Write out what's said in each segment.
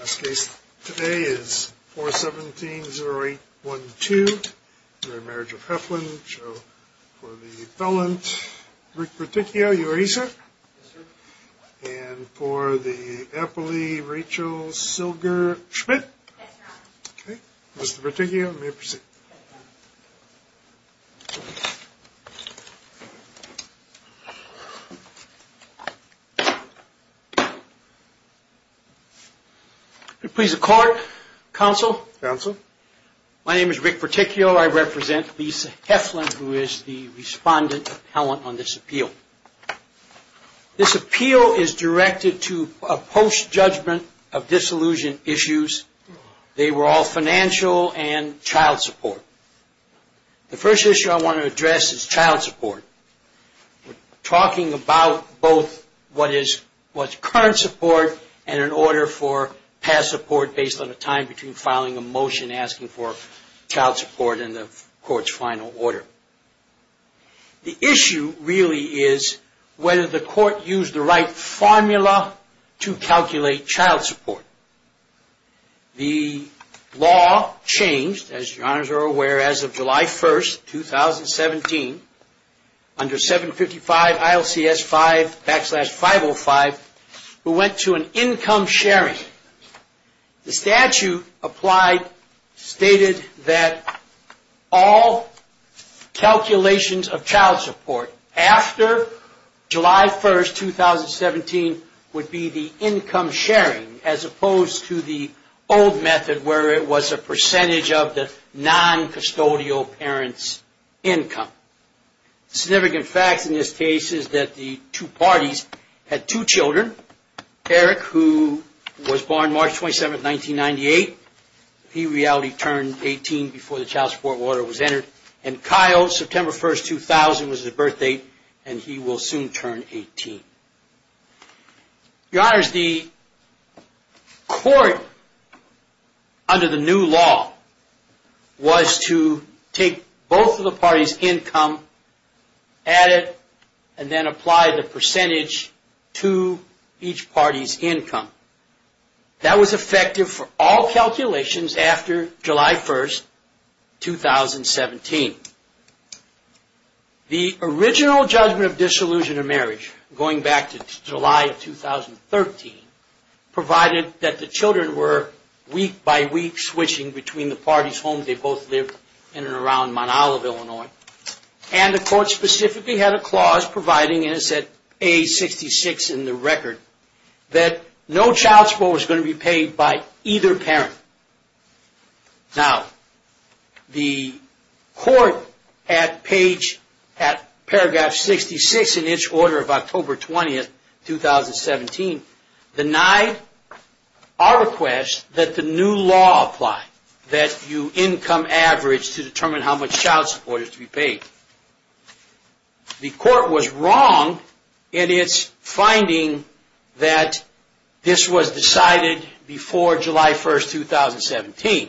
Last case today is 417-0812, Marriage of Heflin, so for the felon, Rick Berticchio, you are he sir? Yes sir. And for the appley, Rachel Silger Schmidt? Yes sir. Okay, Mr. Berticchio, you may proceed. Thank you. Please accord, counsel. Counsel. My name is Rick Berticchio. I represent Lisa Heflin, who is the respondent appellant on this appeal. This appeal is directed to a post-judgment of disillusion issues. They were all financial and child support. The first issue I want to address is child support. We're talking about both what is current support and an order for past support based on a time between filing a motion asking for child support and the court's final order. The issue really is whether the court used the right formula to calculate child support. The law changed, as your honors are aware, as of July 1st, 2017, under 755 ILCS 5 backslash 505, who went to an income sharing. The statute applied stated that all calculations of child support after July 1st, 2017, would be the income sharing as opposed to the old method where it was a percentage of the non-custodial parent's income. Significant facts in this case is that the two parties had two children, Eric, who was born March 27th, 1998. He reality turned 18 before the child support order was entered. And Kyle, September 1st, 2000, was his birth date, and he will soon turn 18. Your honors, the court, under the new law, was to take both of the parties' income, add it, and then apply the percentage to each party's income. That was effective for all calculations after July 1st, 2017. The original judgment of disillusion of marriage, going back to July of 2013, provided that the children were, week by week, switching between the parties' homes. They both lived in and around Monolive, Illinois. And the court specifically had a clause providing, and it said, page 66 in the record, that no child support was going to be paid by either parent. Now, the court, at paragraph 66 in its order of October 20th, 2017, denied our request that the new law apply. That you income average to determine how much child support is to be paid. The court was wrong in its finding that this was decided before July 1st, 2017.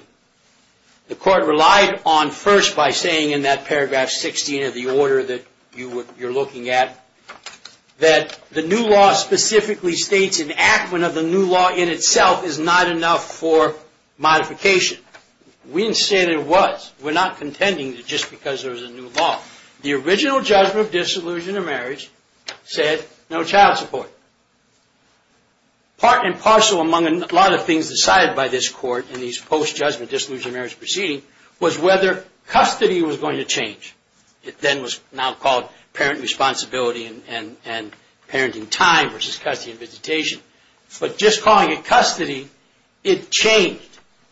The court relied on, first, by saying in that paragraph 16 of the order that you're looking at, that the new law specifically states enactment of the new law in itself is not enough for modification. We didn't say that it was. We're not contending just because there's a new law. The original judgment of disillusion of marriage said no child support. Part and parcel among a lot of things decided by this court in these post-judgment disillusion of marriage proceedings was whether custody was going to change. It then was now called parent responsibility and parenting time versus custody and visitation. But just calling it custody, it changed.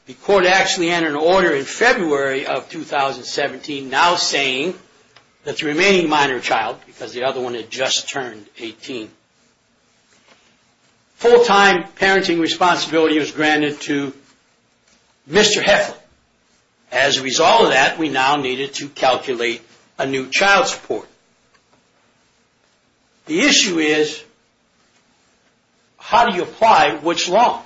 The court actually had an order in February of 2017 now saying that the remaining minor child, because the other one had just turned 18, full-time parenting responsibility was granted to Mr. Heflin. As a result of that, we now needed to calculate a new child support. The issue is how do you apply which law?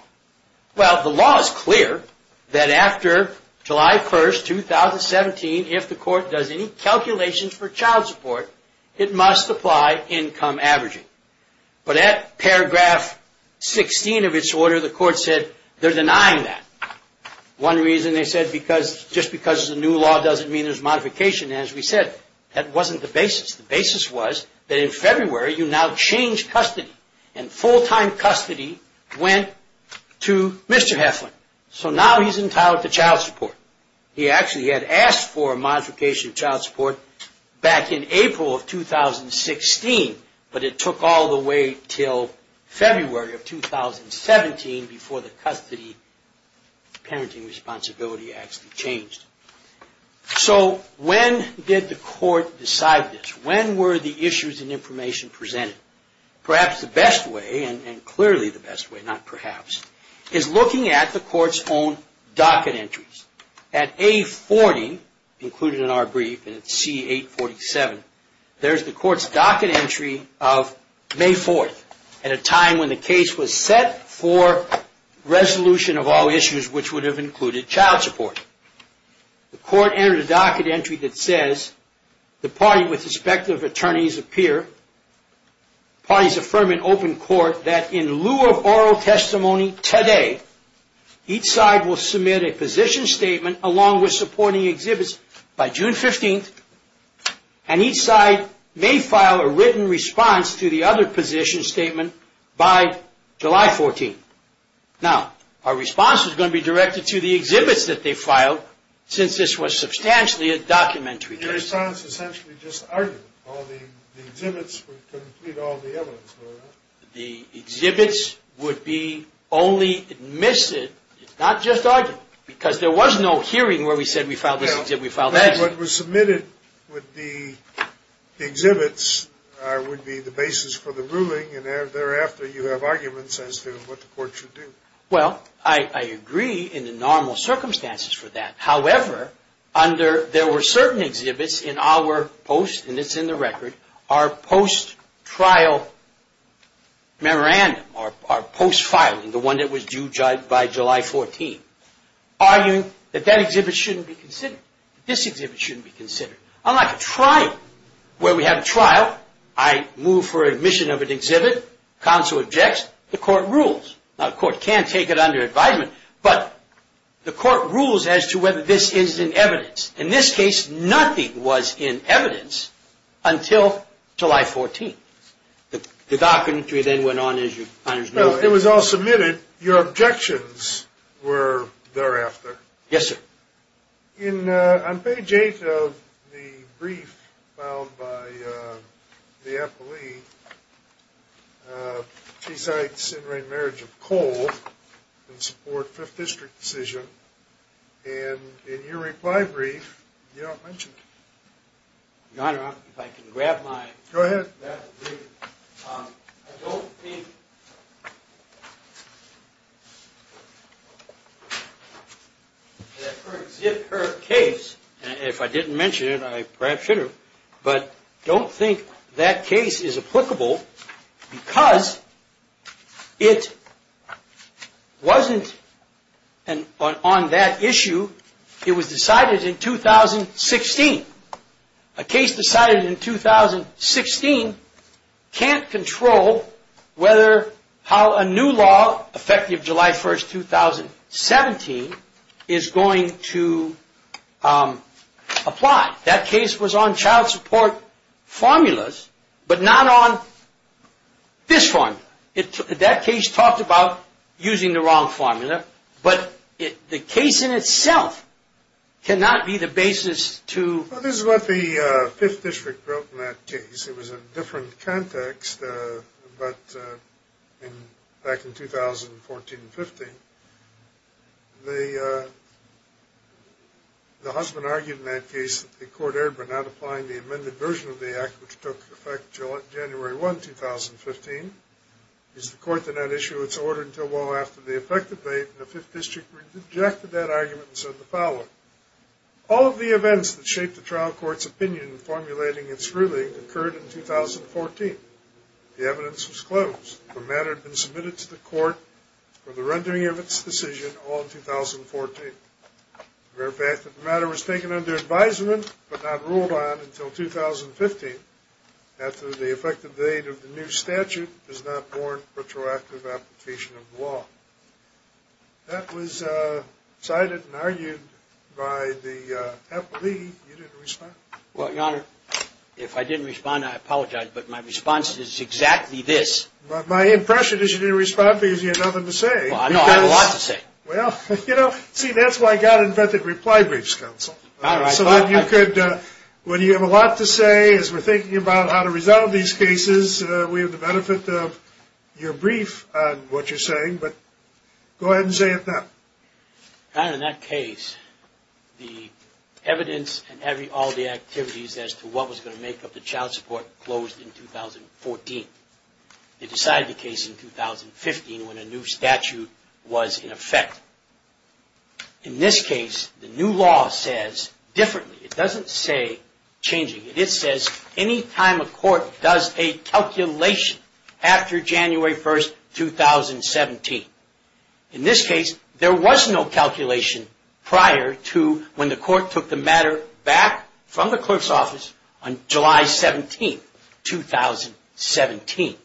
Well, the law is clear that after July 1st, 2017, if the court does any calculations for child support, it must apply income averaging. But at paragraph 16 of its order, the court said they're denying that. One reason they said just because there's a new law doesn't mean there's modification. As we said, that wasn't the basis. The basis was that in February, you now change custody and full-time custody went to Mr. Heflin. So now he's entitled to child support. He actually had asked for a modification of child support back in April of 2016, but it took all the way until February of 2017 before the custody parenting responsibility actually changed. So when did the court decide this? When were the issues and information presented? Perhaps the best way, and clearly the best way, not perhaps, is looking at the court's own docket entries. At A40, included in our brief, and C847, there's the court's docket entry of May 4th, at a time when the case was set for resolution of all issues which would have included child support. The court entered a docket entry that says, The party with respective attorneys appear. Parties affirm in open court that in lieu of oral testimony today, each side will submit a position statement along with supporting exhibits by June 15th, and each side may file a written response to the other position statement by July 14th. Now, our response is going to be directed to the exhibits that they filed, since this was substantially a documentary case. Your response is essentially just argument. All the exhibits would complete all the evidence. The exhibits would be only admitted, not just argued, because there was no hearing where we said we filed this exhibit. What was submitted with the exhibits would be the basis for the ruling, and thereafter you have arguments as to what the court should do. Well, I agree in the normal circumstances for that. However, there were certain exhibits in our post, and it's in the record, our post-trial memorandum, our post-filing, the one that was due by July 14th, arguing that that exhibit shouldn't be considered. This exhibit shouldn't be considered. Unlike a trial, where we have a trial, I move for admission of an exhibit, counsel objects, the court rules. Now, the court can't take it under advisement, but the court rules as to whether this is in evidence. In this case, nothing was in evidence until July 14th. The documentary then went on as your Honor's ruling. Well, it was all submitted. Your objections were thereafter. Yes, sir. On page 8 of the brief filed by the appellee, she cites the in-ring marriage of Cole in support of the 5th District decision, and in your reply brief, you don't mention it. Your Honor, if I can grab my... Go ahead. I don't think that her case, if I didn't mention it, I perhaps should have, but I don't think that case is applicable because it wasn't on that issue. It was decided in 2016. A case decided in 2016 can't control how a new law, effective July 1st, 2017, is going to apply. That case was on child support formulas, but not on this one. That case talked about using the wrong formula, but the case in itself cannot be the basis to... This is what the 5th District wrote in that case. It was a different context, but back in 2014-15, the husband argued in that case that the court erred by not applying the amended version of the act, which took effect January 1, 2015. It is the court to not issue its order until well after the effective date, and the 5th District rejected that argument and said the following. All of the events that shaped the trial court's opinion in formulating its ruling occurred in 2014. The evidence was closed. The matter had been submitted to the court for the rendering of its decision all in 2014. The matter was taken under advisement, but not ruled on until 2015, after the effective date of the new statute does not warrant retroactive application of the law. That was cited and argued by the appellee. Well, Your Honor, if I didn't respond, I apologize, but my response is exactly this. My impression is you didn't respond because you had nothing to say. No, I have a lot to say. Well, you know, see, that's why God invented reply briefs, Counsel. So that you could... When you have a lot to say, as we're thinking about how to resolve these cases, we have the benefit of your brief on what you're saying, but go ahead and say it now. Your Honor, in that case, the evidence and all the activities as to what was going to make up the child support closed in 2014. They decided the case in 2015 when a new statute was in effect. In this case, the new law says differently. It doesn't say changing. It says any time a court does a calculation after January 1, 2017. In this case, there was no calculation prior to when the court took the matter back from the clerk's office on July 17, 2017.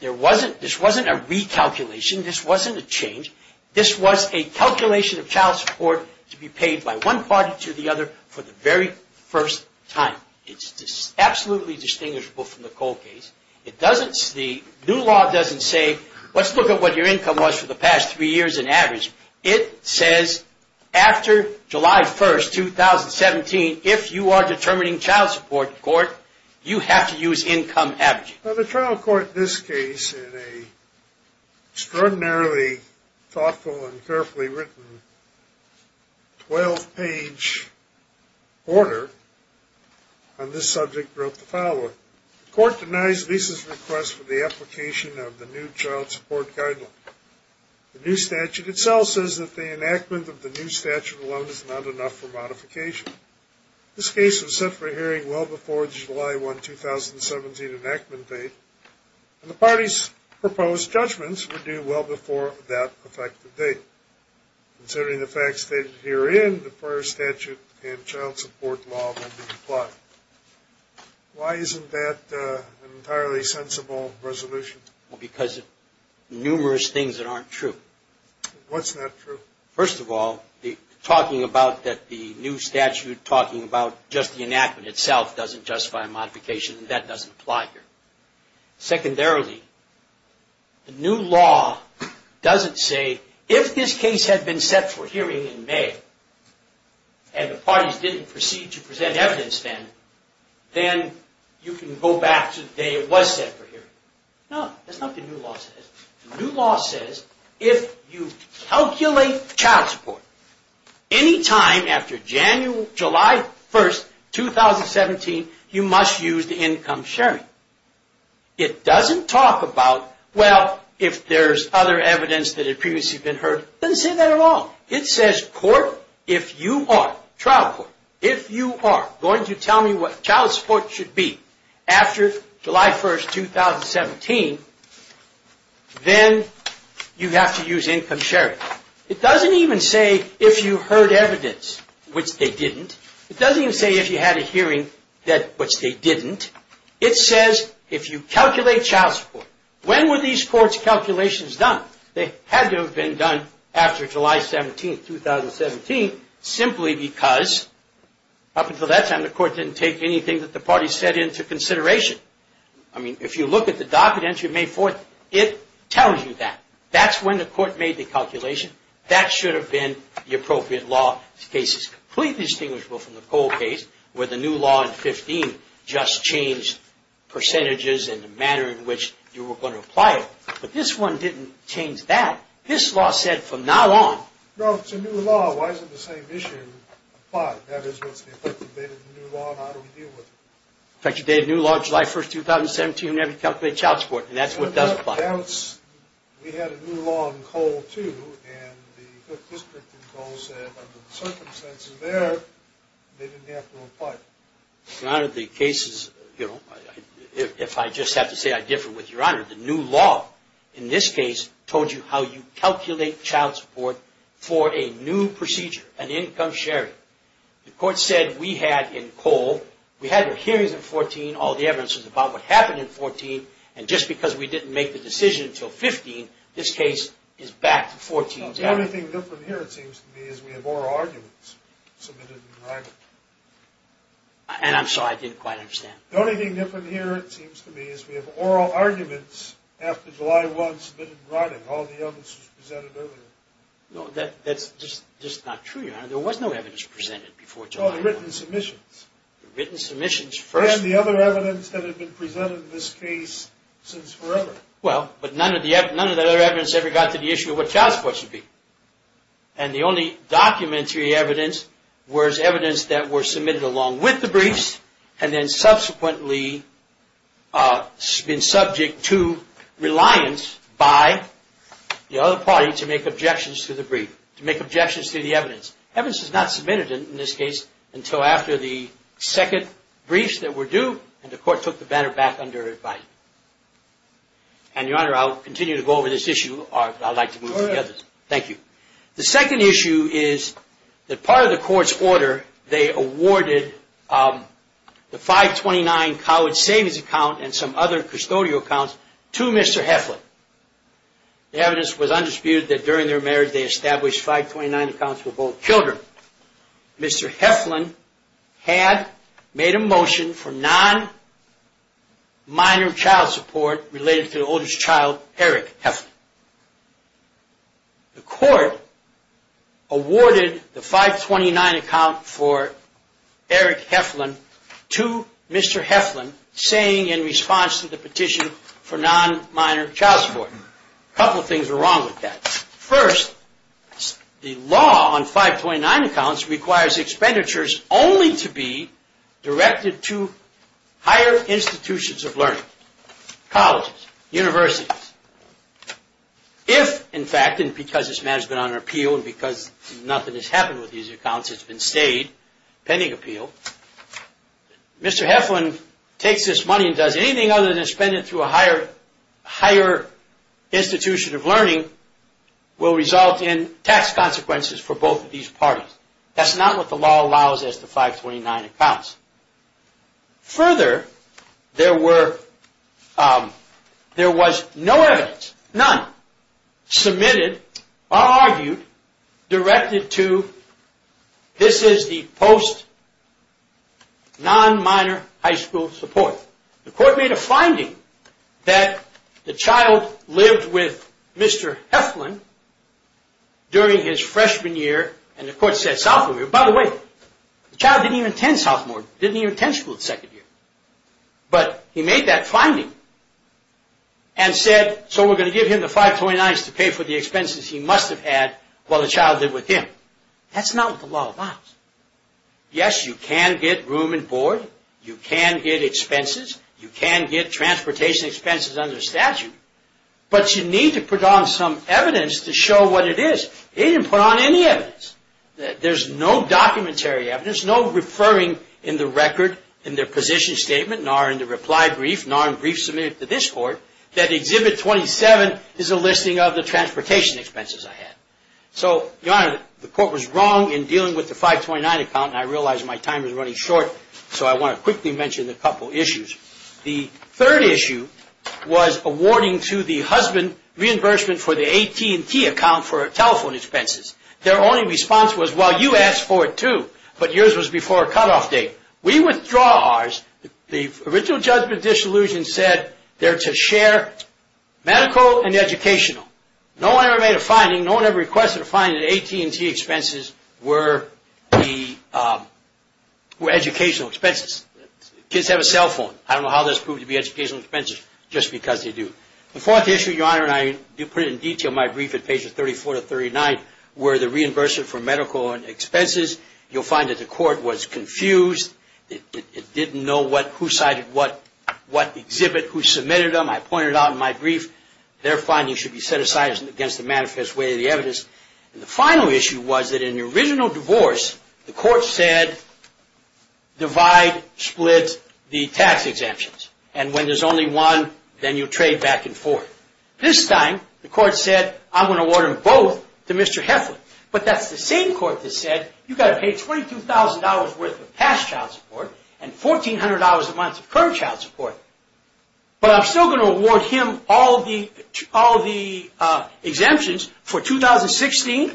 This wasn't a recalculation. This wasn't a change. This was a calculation of child support to be paid by one party to the other for the very first time. It's absolutely distinguishable from the Cole case. The new law doesn't say, let's look at what your income was for the past three years on average. It says after July 1, 2017, if you are determining child support in court, you have to use income averaging. The trial court in this case, in a extraordinarily thoughtful and carefully written 12-page order on this subject, wrote the following. The court denies Lisa's request for the application of the new child support guideline. The new statute itself says that the enactment of the new statute alone is not enough for modification. This case was set for hearing well before July 1, 2017 enactment date, and the party's proposed judgments were due well before that effective date. Considering the facts stated herein, the prior statute and child support law will be applied. Why isn't that an entirely sensible resolution? Because of numerous things that aren't true. What's not true? First of all, talking about the new statute, talking about just the enactment itself doesn't justify modification, and that doesn't apply here. Then you can go back to the day it was set for hearing. No, that's not what the new law says. The new law says if you calculate child support any time after July 1, 2017, you must use the income sharing. It doesn't talk about, well, if there's other evidence that had previously been heard. It doesn't say that at all. It says court, if you are, trial court, if you are going to tell me what child support should be after July 1, 2017, then you have to use income sharing. It doesn't even say if you heard evidence, which they didn't. It doesn't even say if you had a hearing, which they didn't. It says if you calculate child support. When were these court's calculations done? They had to have been done after July 17, 2017, simply because up until that time, the court didn't take anything that the party set into consideration. I mean, if you look at the docket entry of May 4th, it tells you that. That's when the court made the calculation. That should have been the appropriate law. This case is completely distinguishable from the Cole case, where the new law in 15 just changed percentages and the manner in which you were going to apply it. But this one didn't change that. This law said from now on. No, it's a new law. Why isn't the same issue applied? That is, what's the effective date of the new law, and how do we deal with it? Effective date of new law, July 1, 2017, you have to calculate child support, and that's what does apply. We had a new law in Cole, too, and the 5th District in Cole said, under the circumstances there, they didn't have to apply it. Your Honor, the cases, you know, if I just have to say I differ with Your Honor, the new law in this case told you how you calculate child support for a new procedure, an income sharing. The court said we had in Cole, we had the hearings in 14, all the evidence was about what happened in 14, and just because we didn't make the decision until 15, this case is back to 14. The only thing different here, it seems to me, is we have oral arguments submitted in writing. And I'm sorry, I didn't quite understand. The only thing different here, it seems to me, is we have oral arguments after July 1 submitted in writing, all the evidence was presented earlier. No, that's just not true, Your Honor. There was no evidence presented before July 1. No, the written submissions. The written submissions first. And the other evidence that had been presented in this case since forever. Well, but none of the other evidence ever got to the issue of what child support should be. And the only documentary evidence was evidence that were submitted along with the briefs, and then subsequently been subject to reliance by the other party to make objections to the brief, to make objections to the evidence. Evidence is not submitted in this case until after the second briefs that were due, and the court took the banner back under its bite. And, Your Honor, I'll continue to go over this issue, or I'd like to move on. Go ahead. Thank you. The second issue is that part of the court's order, they awarded the 529 college savings account and some other custodial accounts to Mr. Heflin. The evidence was undisputed that during their marriage they established 529 accounts for both children. Mr. Heflin had made a motion for non-minor child support related to the oldest child, Eric Heflin. The court awarded the 529 account for Eric Heflin to Mr. Heflin saying in response to the petition for non-minor child support. A couple of things were wrong with that. First, the law on 529 accounts requires expenditures only to be directed to higher institutions of learning, colleges, universities. If, in fact, and because this matter's been on appeal and because nothing has happened with these accounts, it's been stayed pending appeal, Mr. Heflin takes this money and does anything other than spend it through a higher institution of learning will result in tax consequences for both of these parties. That's not what the law allows as to 529 accounts. Further, there was no evidence, none, submitted or argued directed to this is the post-non-minor high school support. The court made a finding that the child lived with Mr. Heflin during his freshman year and the court said sophomore year. By the way, the child didn't even attend sophomore, didn't even attend school the second year. But he made that finding and said, so we're going to give him the 529s to pay for the expenses he must have had while the child lived with him. That's not what the law allows. Yes, you can get room and board, you can get expenses, you can get transportation expenses under statute, but you need to put on some evidence to show what it is. They didn't put on any evidence. There's no documentary evidence, no referring in the record in their position statement, nor in the reply brief, nor in brief submitted to this court, that Exhibit 27 is a listing of the transportation expenses I had. So, Your Honor, the court was wrong in dealing with the 529 account and I realize my time is running short, so I want to quickly mention a couple issues. The third issue was awarding to the husband reimbursement for the AT&T account for telephone expenses. Their only response was, well, you asked for it too, but yours was before cutoff date. We withdraw ours. The original judgment of disillusionment said they're to share medical and educational. No one ever made a finding, no one ever requested a finding that AT&T expenses were educational expenses. Kids have a cell phone. I don't know how this proved to be educational expenses just because they do. The fourth issue, Your Honor, and I do put it in detail in my brief at pages 34 to 39, were the reimbursement for medical and expenses. You'll find that the court was confused. It didn't know who cited what exhibit, who submitted them. I pointed it out in my brief. The final issue was that in the original divorce, the court said divide, split the tax exemptions. And when there's only one, then you trade back and forth. This time, the court said, I'm going to award them both to Mr. Heflin. But that's the same court that said, you've got to pay $22,000 worth of past child support and $1,400 a month of current child support. But I'm still going to award him all the exemptions for 2016,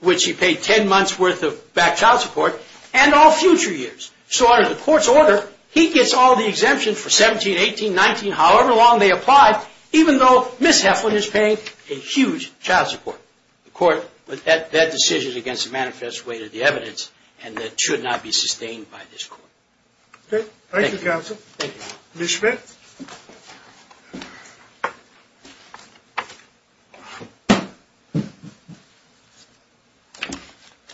which he paid 10 months worth of back child support, and all future years. So under the court's order, he gets all the exemptions for 17, 18, 19, however long they apply, even though Ms. Heflin is paying a huge child support. The court, that decision is against the manifest way to the evidence, and it should not be sustained by this court. Okay, thank you, counsel. Ms. Schmidt?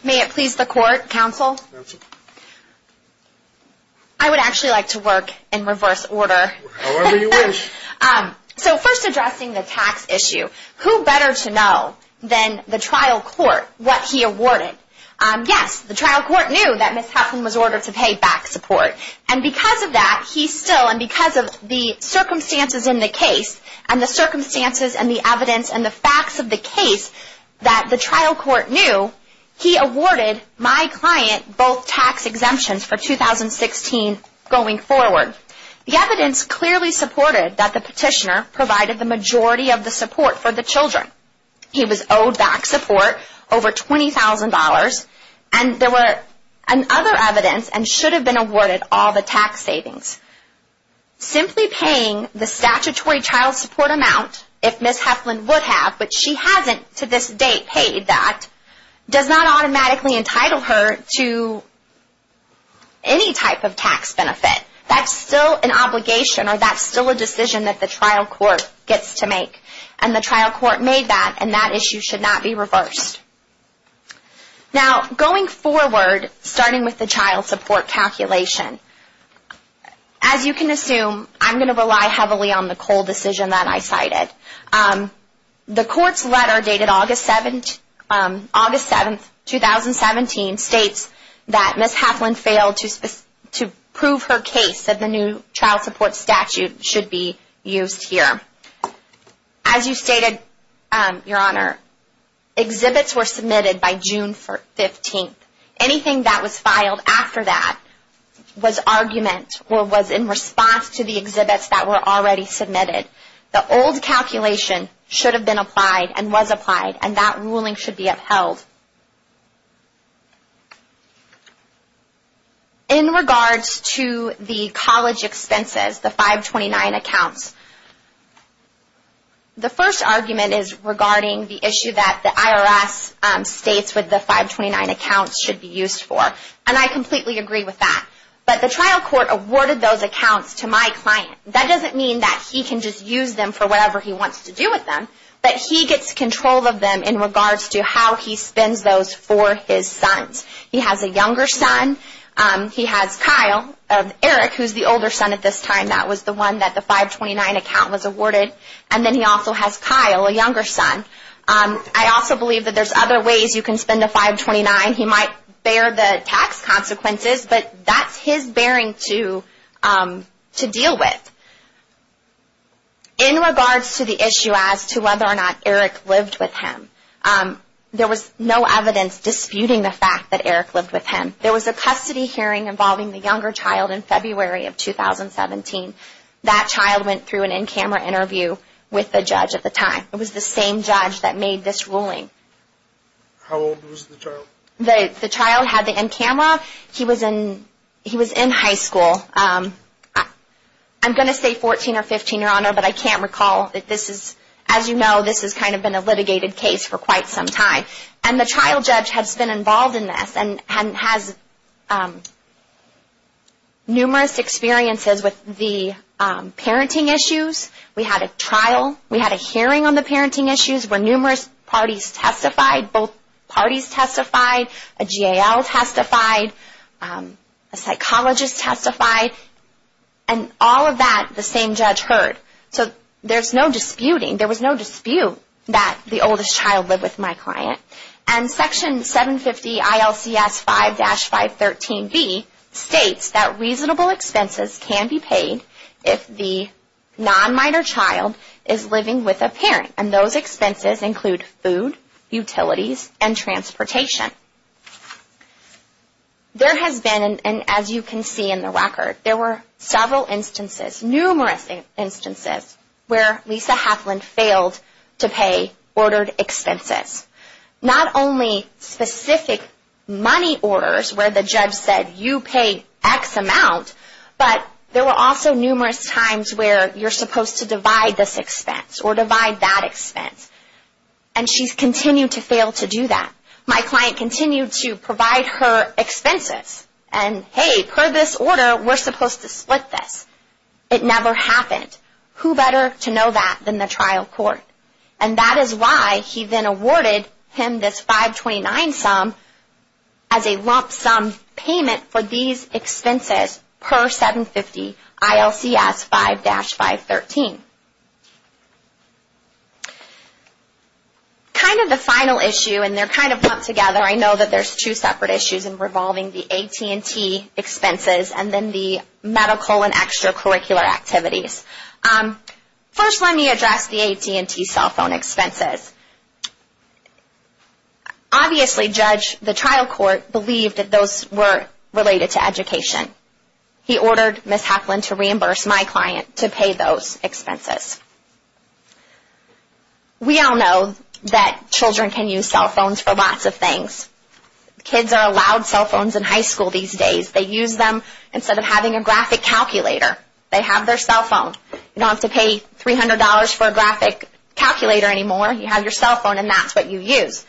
May it please the court, counsel? I would actually like to work in reverse order. However you wish. So first addressing the tax issue, who better to know than the trial court what he awarded? Yes, the trial court knew that Ms. Heflin was ordered to pay back support. And because of that, he still, and because of the circumstances in the case, and the circumstances and the evidence and the facts of the case, that the trial court knew, he awarded my client both tax exemptions for 2016 going forward. The evidence clearly supported that the petitioner provided the majority of the support for the children. He was owed back support, over $20,000, and there were other evidence and should have been awarded all the tax savings. Simply paying the statutory child support amount, if Ms. Heflin would have, but she hasn't to this date paid that, does not automatically entitle her to any type of tax benefit. That's still an obligation, or that's still a decision that the trial court gets to make. And the trial court made that, and that issue should not be reversed. Now, going forward, starting with the child support calculation. As you can assume, I'm going to rely heavily on the Cole decision that I cited. The court's letter dated August 7th, 2017, states that Ms. Heflin failed to prove her case, that the new child support statute should be used here. As you stated, Your Honor, exhibits were submitted by June 15th. Anything that was filed after that was argument, or was in response to the exhibits that were already submitted. The old calculation should have been applied, and was applied, and that ruling should be upheld. In regards to the college expenses, the 529 accounts, the first argument is regarding the issue that the IRS states that the 529 accounts should be used for. And I completely agree with that. But the trial court awarded those accounts to my client. That doesn't mean that he can just use them for whatever he wants to do with them. But he gets control of them in regards to how he spends those for his sons. He has a younger son. He has Kyle, Eric, who's the older son at this time. That was the one that the 529 account was awarded. And then he also has Kyle, a younger son. I also believe that there's other ways you can spend a 529. He might bear the tax consequences, but that's his bearing to deal with. In regards to the issue as to whether or not Eric lived with him, there was no evidence disputing the fact that Eric lived with him. There was a custody hearing involving the younger child in February of 2017. That child went through an in-camera interview with the judge at the time. It was the same judge that made this ruling. How old was the child? The child had the in-camera. He was in high school. I'm going to say 14 or 15, Your Honor, but I can't recall. As you know, this has kind of been a litigated case for quite some time. And the trial judge has been involved in this and has numerous experiences with the parenting issues. We had a trial. We had a hearing on the parenting issues where numerous parties testified. Both parties testified. A GAL testified. A psychologist testified. And all of that the same judge heard. So there's no disputing. There was no dispute that the oldest child lived with my client. And Section 750 ILCS 5-513B states that reasonable expenses can be paid if the non-minor child is living with a parent. And those expenses include food, utilities, and transportation. There has been, and as you can see in the record, there were several instances, numerous instances, where Lisa Hapland failed to pay ordered expenses. Not only specific money orders where the judge said you pay X amount, but there were also numerous times where you're supposed to divide this expense or divide that expense. And she's continued to fail to do that. My client continued to provide her expenses and, hey, per this order, we're supposed to split this. It never happened. Who better to know that than the trial court? And that is why he then awarded him this 529 sum as a lump sum payment for these expenses per 750 ILCS 5-513. Kind of the final issue, and they're kind of pumped together, I know that there's two separate issues in revolving the AT&T expenses and then the medical and extracurricular activities. First, let me address the AT&T cell phone expenses. Obviously, the trial court believed that those were related to education. He ordered Ms. Hapland to reimburse my client to pay those expenses. We all know that children can use cell phones for lots of things. Kids are allowed cell phones in high school these days. They use them instead of having a graphic calculator. They have their cell phone. You don't have to pay $300 for a graphic calculator anymore. You have your cell phone, and that's what you use.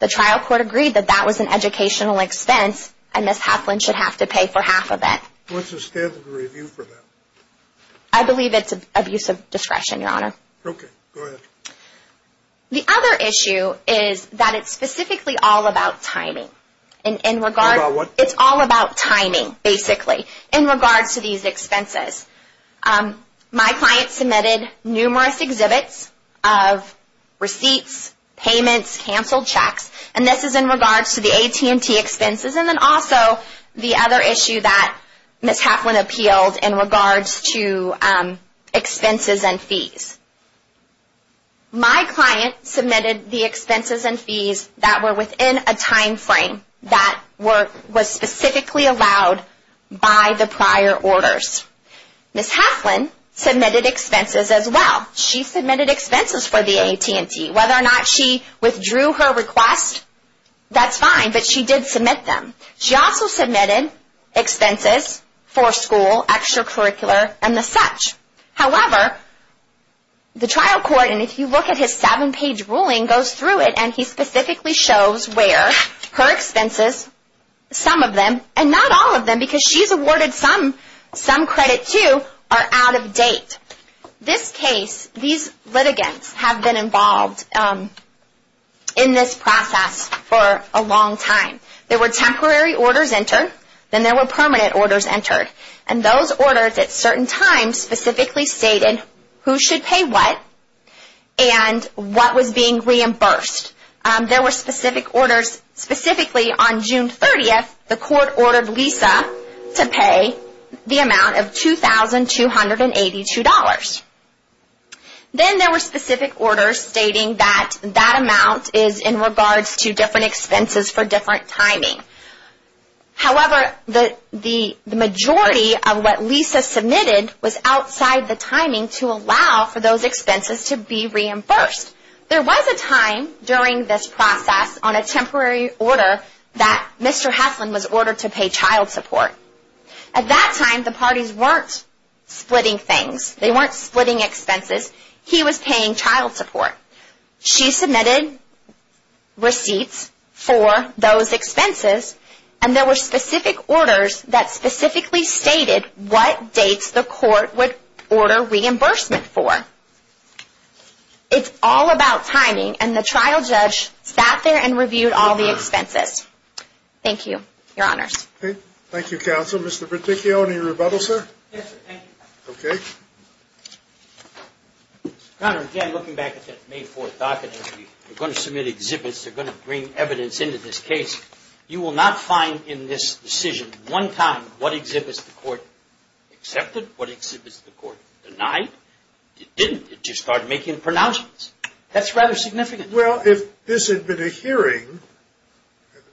The trial court agreed that that was an educational expense, and Ms. Hapland should have to pay for half of it. What's the standard review for that? I believe it's abuse of discretion, Your Honor. Okay, go ahead. The other issue is that it's specifically all about timing. All about what? It's all about timing, basically, in regards to these expenses. My client submitted numerous exhibits of receipts, payments, canceled checks, and this is in regards to the AT&T expenses, and then also the other issue that Ms. Hapland appealed in regards to expenses and fees. My client submitted the expenses and fees that were within a timeframe that was specifically allowed by the prior orders. Ms. Hapland submitted expenses as well. She submitted expenses for the AT&T. Whether or not she withdrew her request, that's fine, but she did submit them. She also submitted expenses for school, extracurricular, and the such. However, the trial court, and if you look at his seven-page ruling, goes through it, and he specifically shows where her expenses, some of them, and not all of them because she's awarded some credit too, are out of date. This case, these litigants have been involved in this process for a long time. There were temporary orders entered, then there were permanent orders entered, and those orders at certain times specifically stated who should pay what and what was being reimbursed. There were specific orders, specifically on June 30th, the court ordered Lisa to pay the amount of $2,282. Then there were specific orders stating that that amount is in regards to different expenses for different timing. However, the majority of what Lisa submitted was outside the timing to allow for those expenses to be reimbursed. There was a time during this process on a temporary order that Mr. Haslund was ordered to pay child support. At that time, the parties weren't splitting things. They weren't splitting expenses. He was paying child support. She submitted receipts for those expenses, and there were specific orders that specifically stated what dates the court would order reimbursement for. It's all about timing, and the trial judge sat there and reviewed all the expenses. Thank you. Your Honors. Thank you, Counsel. Mr. Berticchio, any rebuttal, sir? Yes, sir. Thank you. Okay. Mr. Conner, again, looking back at that May 4th docket, they're going to submit exhibits, they're going to bring evidence into this case. You will not find in this decision one time what exhibits the court accepted, what exhibits the court denied. It didn't. It just started making pronouncements. That's rather significant. Well, if this had been a hearing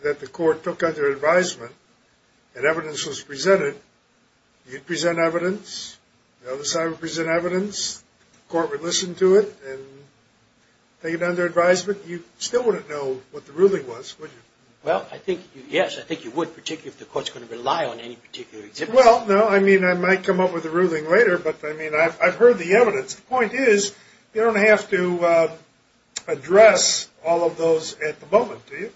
that the court took under advisement and evidence was presented, you'd present evidence, the other side would present evidence, the court would listen to it and take it under advisement. You still wouldn't know what the ruling was, would you? Well, I think, yes, I think you would, particularly if the court's going to rely on any particular exhibit. Well, no, I mean, I might come up with a ruling later, but, I mean, I've heard the evidence. The point is, you don't have to address all of those at the moment, do you?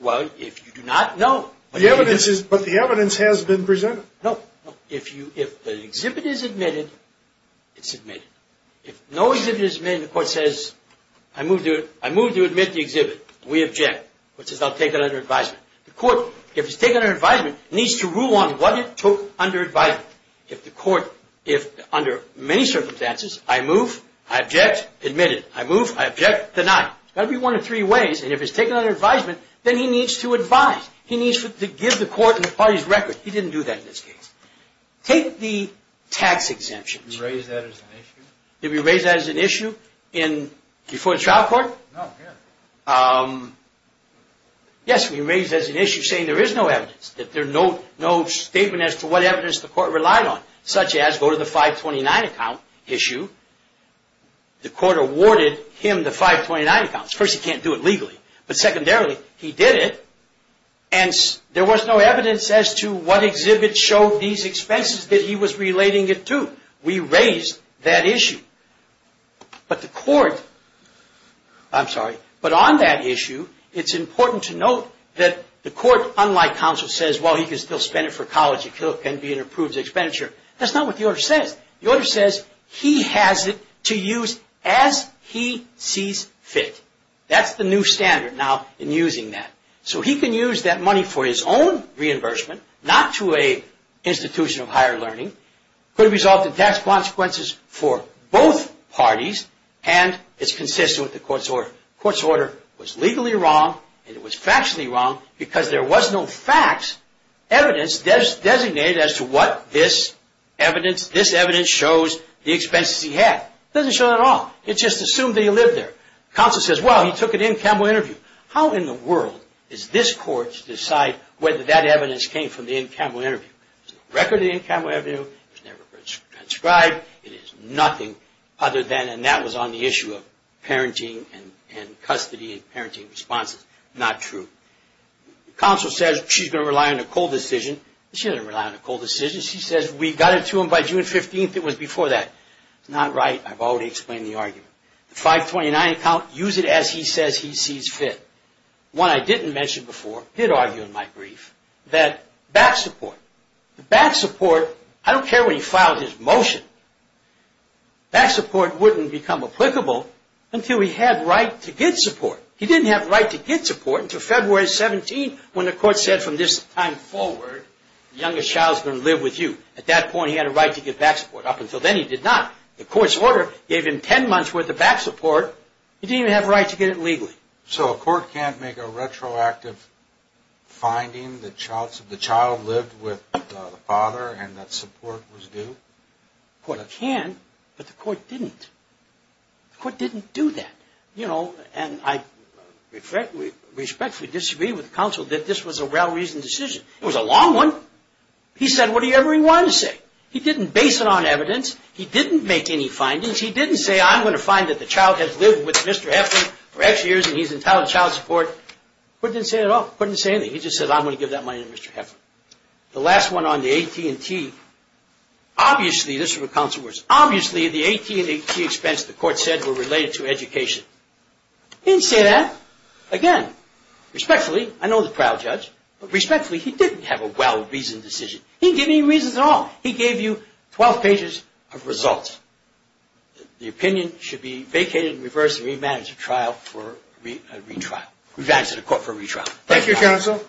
Well, if you do not, no. But the evidence has been presented. No. If an exhibit is admitted, it's admitted. If no exhibit is admitted, the court says, I move to admit the exhibit. We object. The court says, I'll take it under advisement. The court, if it's taken under advisement, needs to rule on what it took under advisement. If the court, under many circumstances, I move, I object, admit it. I move, I object, deny it. It's got to be one of three ways, and if it's taken under advisement, then he needs to advise. He needs to give the court and the parties record. He didn't do that in this case. Take the tax exemptions. Did we raise that as an issue? Did we raise that as an issue before the trial court? Yes, we raised it as an issue, saying there is no evidence, that there's no statement as to what evidence the court relied on, such as go to the 529 account issue. The court awarded him the 529 account. First, he can't do it legally, but secondarily, he did it, and there was no evidence as to what exhibit showed these expenses that he was relating it to. We raised that issue. But the court, I'm sorry, but on that issue, it's important to note that the court, unlike counsel, says, well, he can still spend it for college. It can be an approved expenditure. That's not what the order says. The order says he has it to use as he sees fit. That's the new standard now in using that. So he can use that money for his own reimbursement, not to an institution of higher learning. It could result in tax consequences for both parties, and it's consistent with the court's order. The court's order was legally wrong, and it was factually wrong, because there was no facts, evidence designated as to what this evidence shows the expenses he had. It doesn't show that at all. It just assumed that he lived there. Counsel says, well, he took an in-camera interview. How in the world does this court decide whether that evidence came from the in-camera interview? There's no record of the in-camera interview. It was never transcribed. It is nothing other than, and that was on the issue of parenting and custody and parenting responses. Not true. Counsel says she's going to rely on a cold decision. She doesn't rely on a cold decision. She says we got it to him by June 15th. It was before that. It's not right. I've already explained the argument. The 529 account, use it as he says he sees fit. One I didn't mention before, did argue in my brief, that back support. The back support, I don't care what he filed his motion, back support wouldn't become applicable until he had right to get support. He didn't have right to get support until February 17th when the court said from this time forward, the youngest child's going to live with you. At that point, he had a right to get back support. Up until then, he did not. The court's order gave him 10 months' worth of back support. He didn't even have a right to get it legally. So a court can't make a retroactive finding that the child lived with the father and that support was due? A court can, but the court didn't. The court didn't do that. And I respectfully disagree with counsel that this was a well-reasoned decision. It was a long one. He said whatever he wanted to say. He didn't base it on evidence. He didn't make any findings. He didn't say, I'm going to find that the child has lived with Mr. Heffern for X years and he's entitled to child support. He didn't say that at all. He didn't say anything. He just said, I'm going to give that money to Mr. Heffern. The last one on the AT&T, obviously, this was with counsel. Obviously, the AT&T expense, the court said, were related to education. He didn't say that. Again, respectfully, I know the trial judge, but respectfully, he didn't have a well-reasoned decision. He didn't give any reasons at all. He gave you 12 pages of results. The opinion should be vacated and reversed and remanaged at a court for retrial. Thank you, counsel.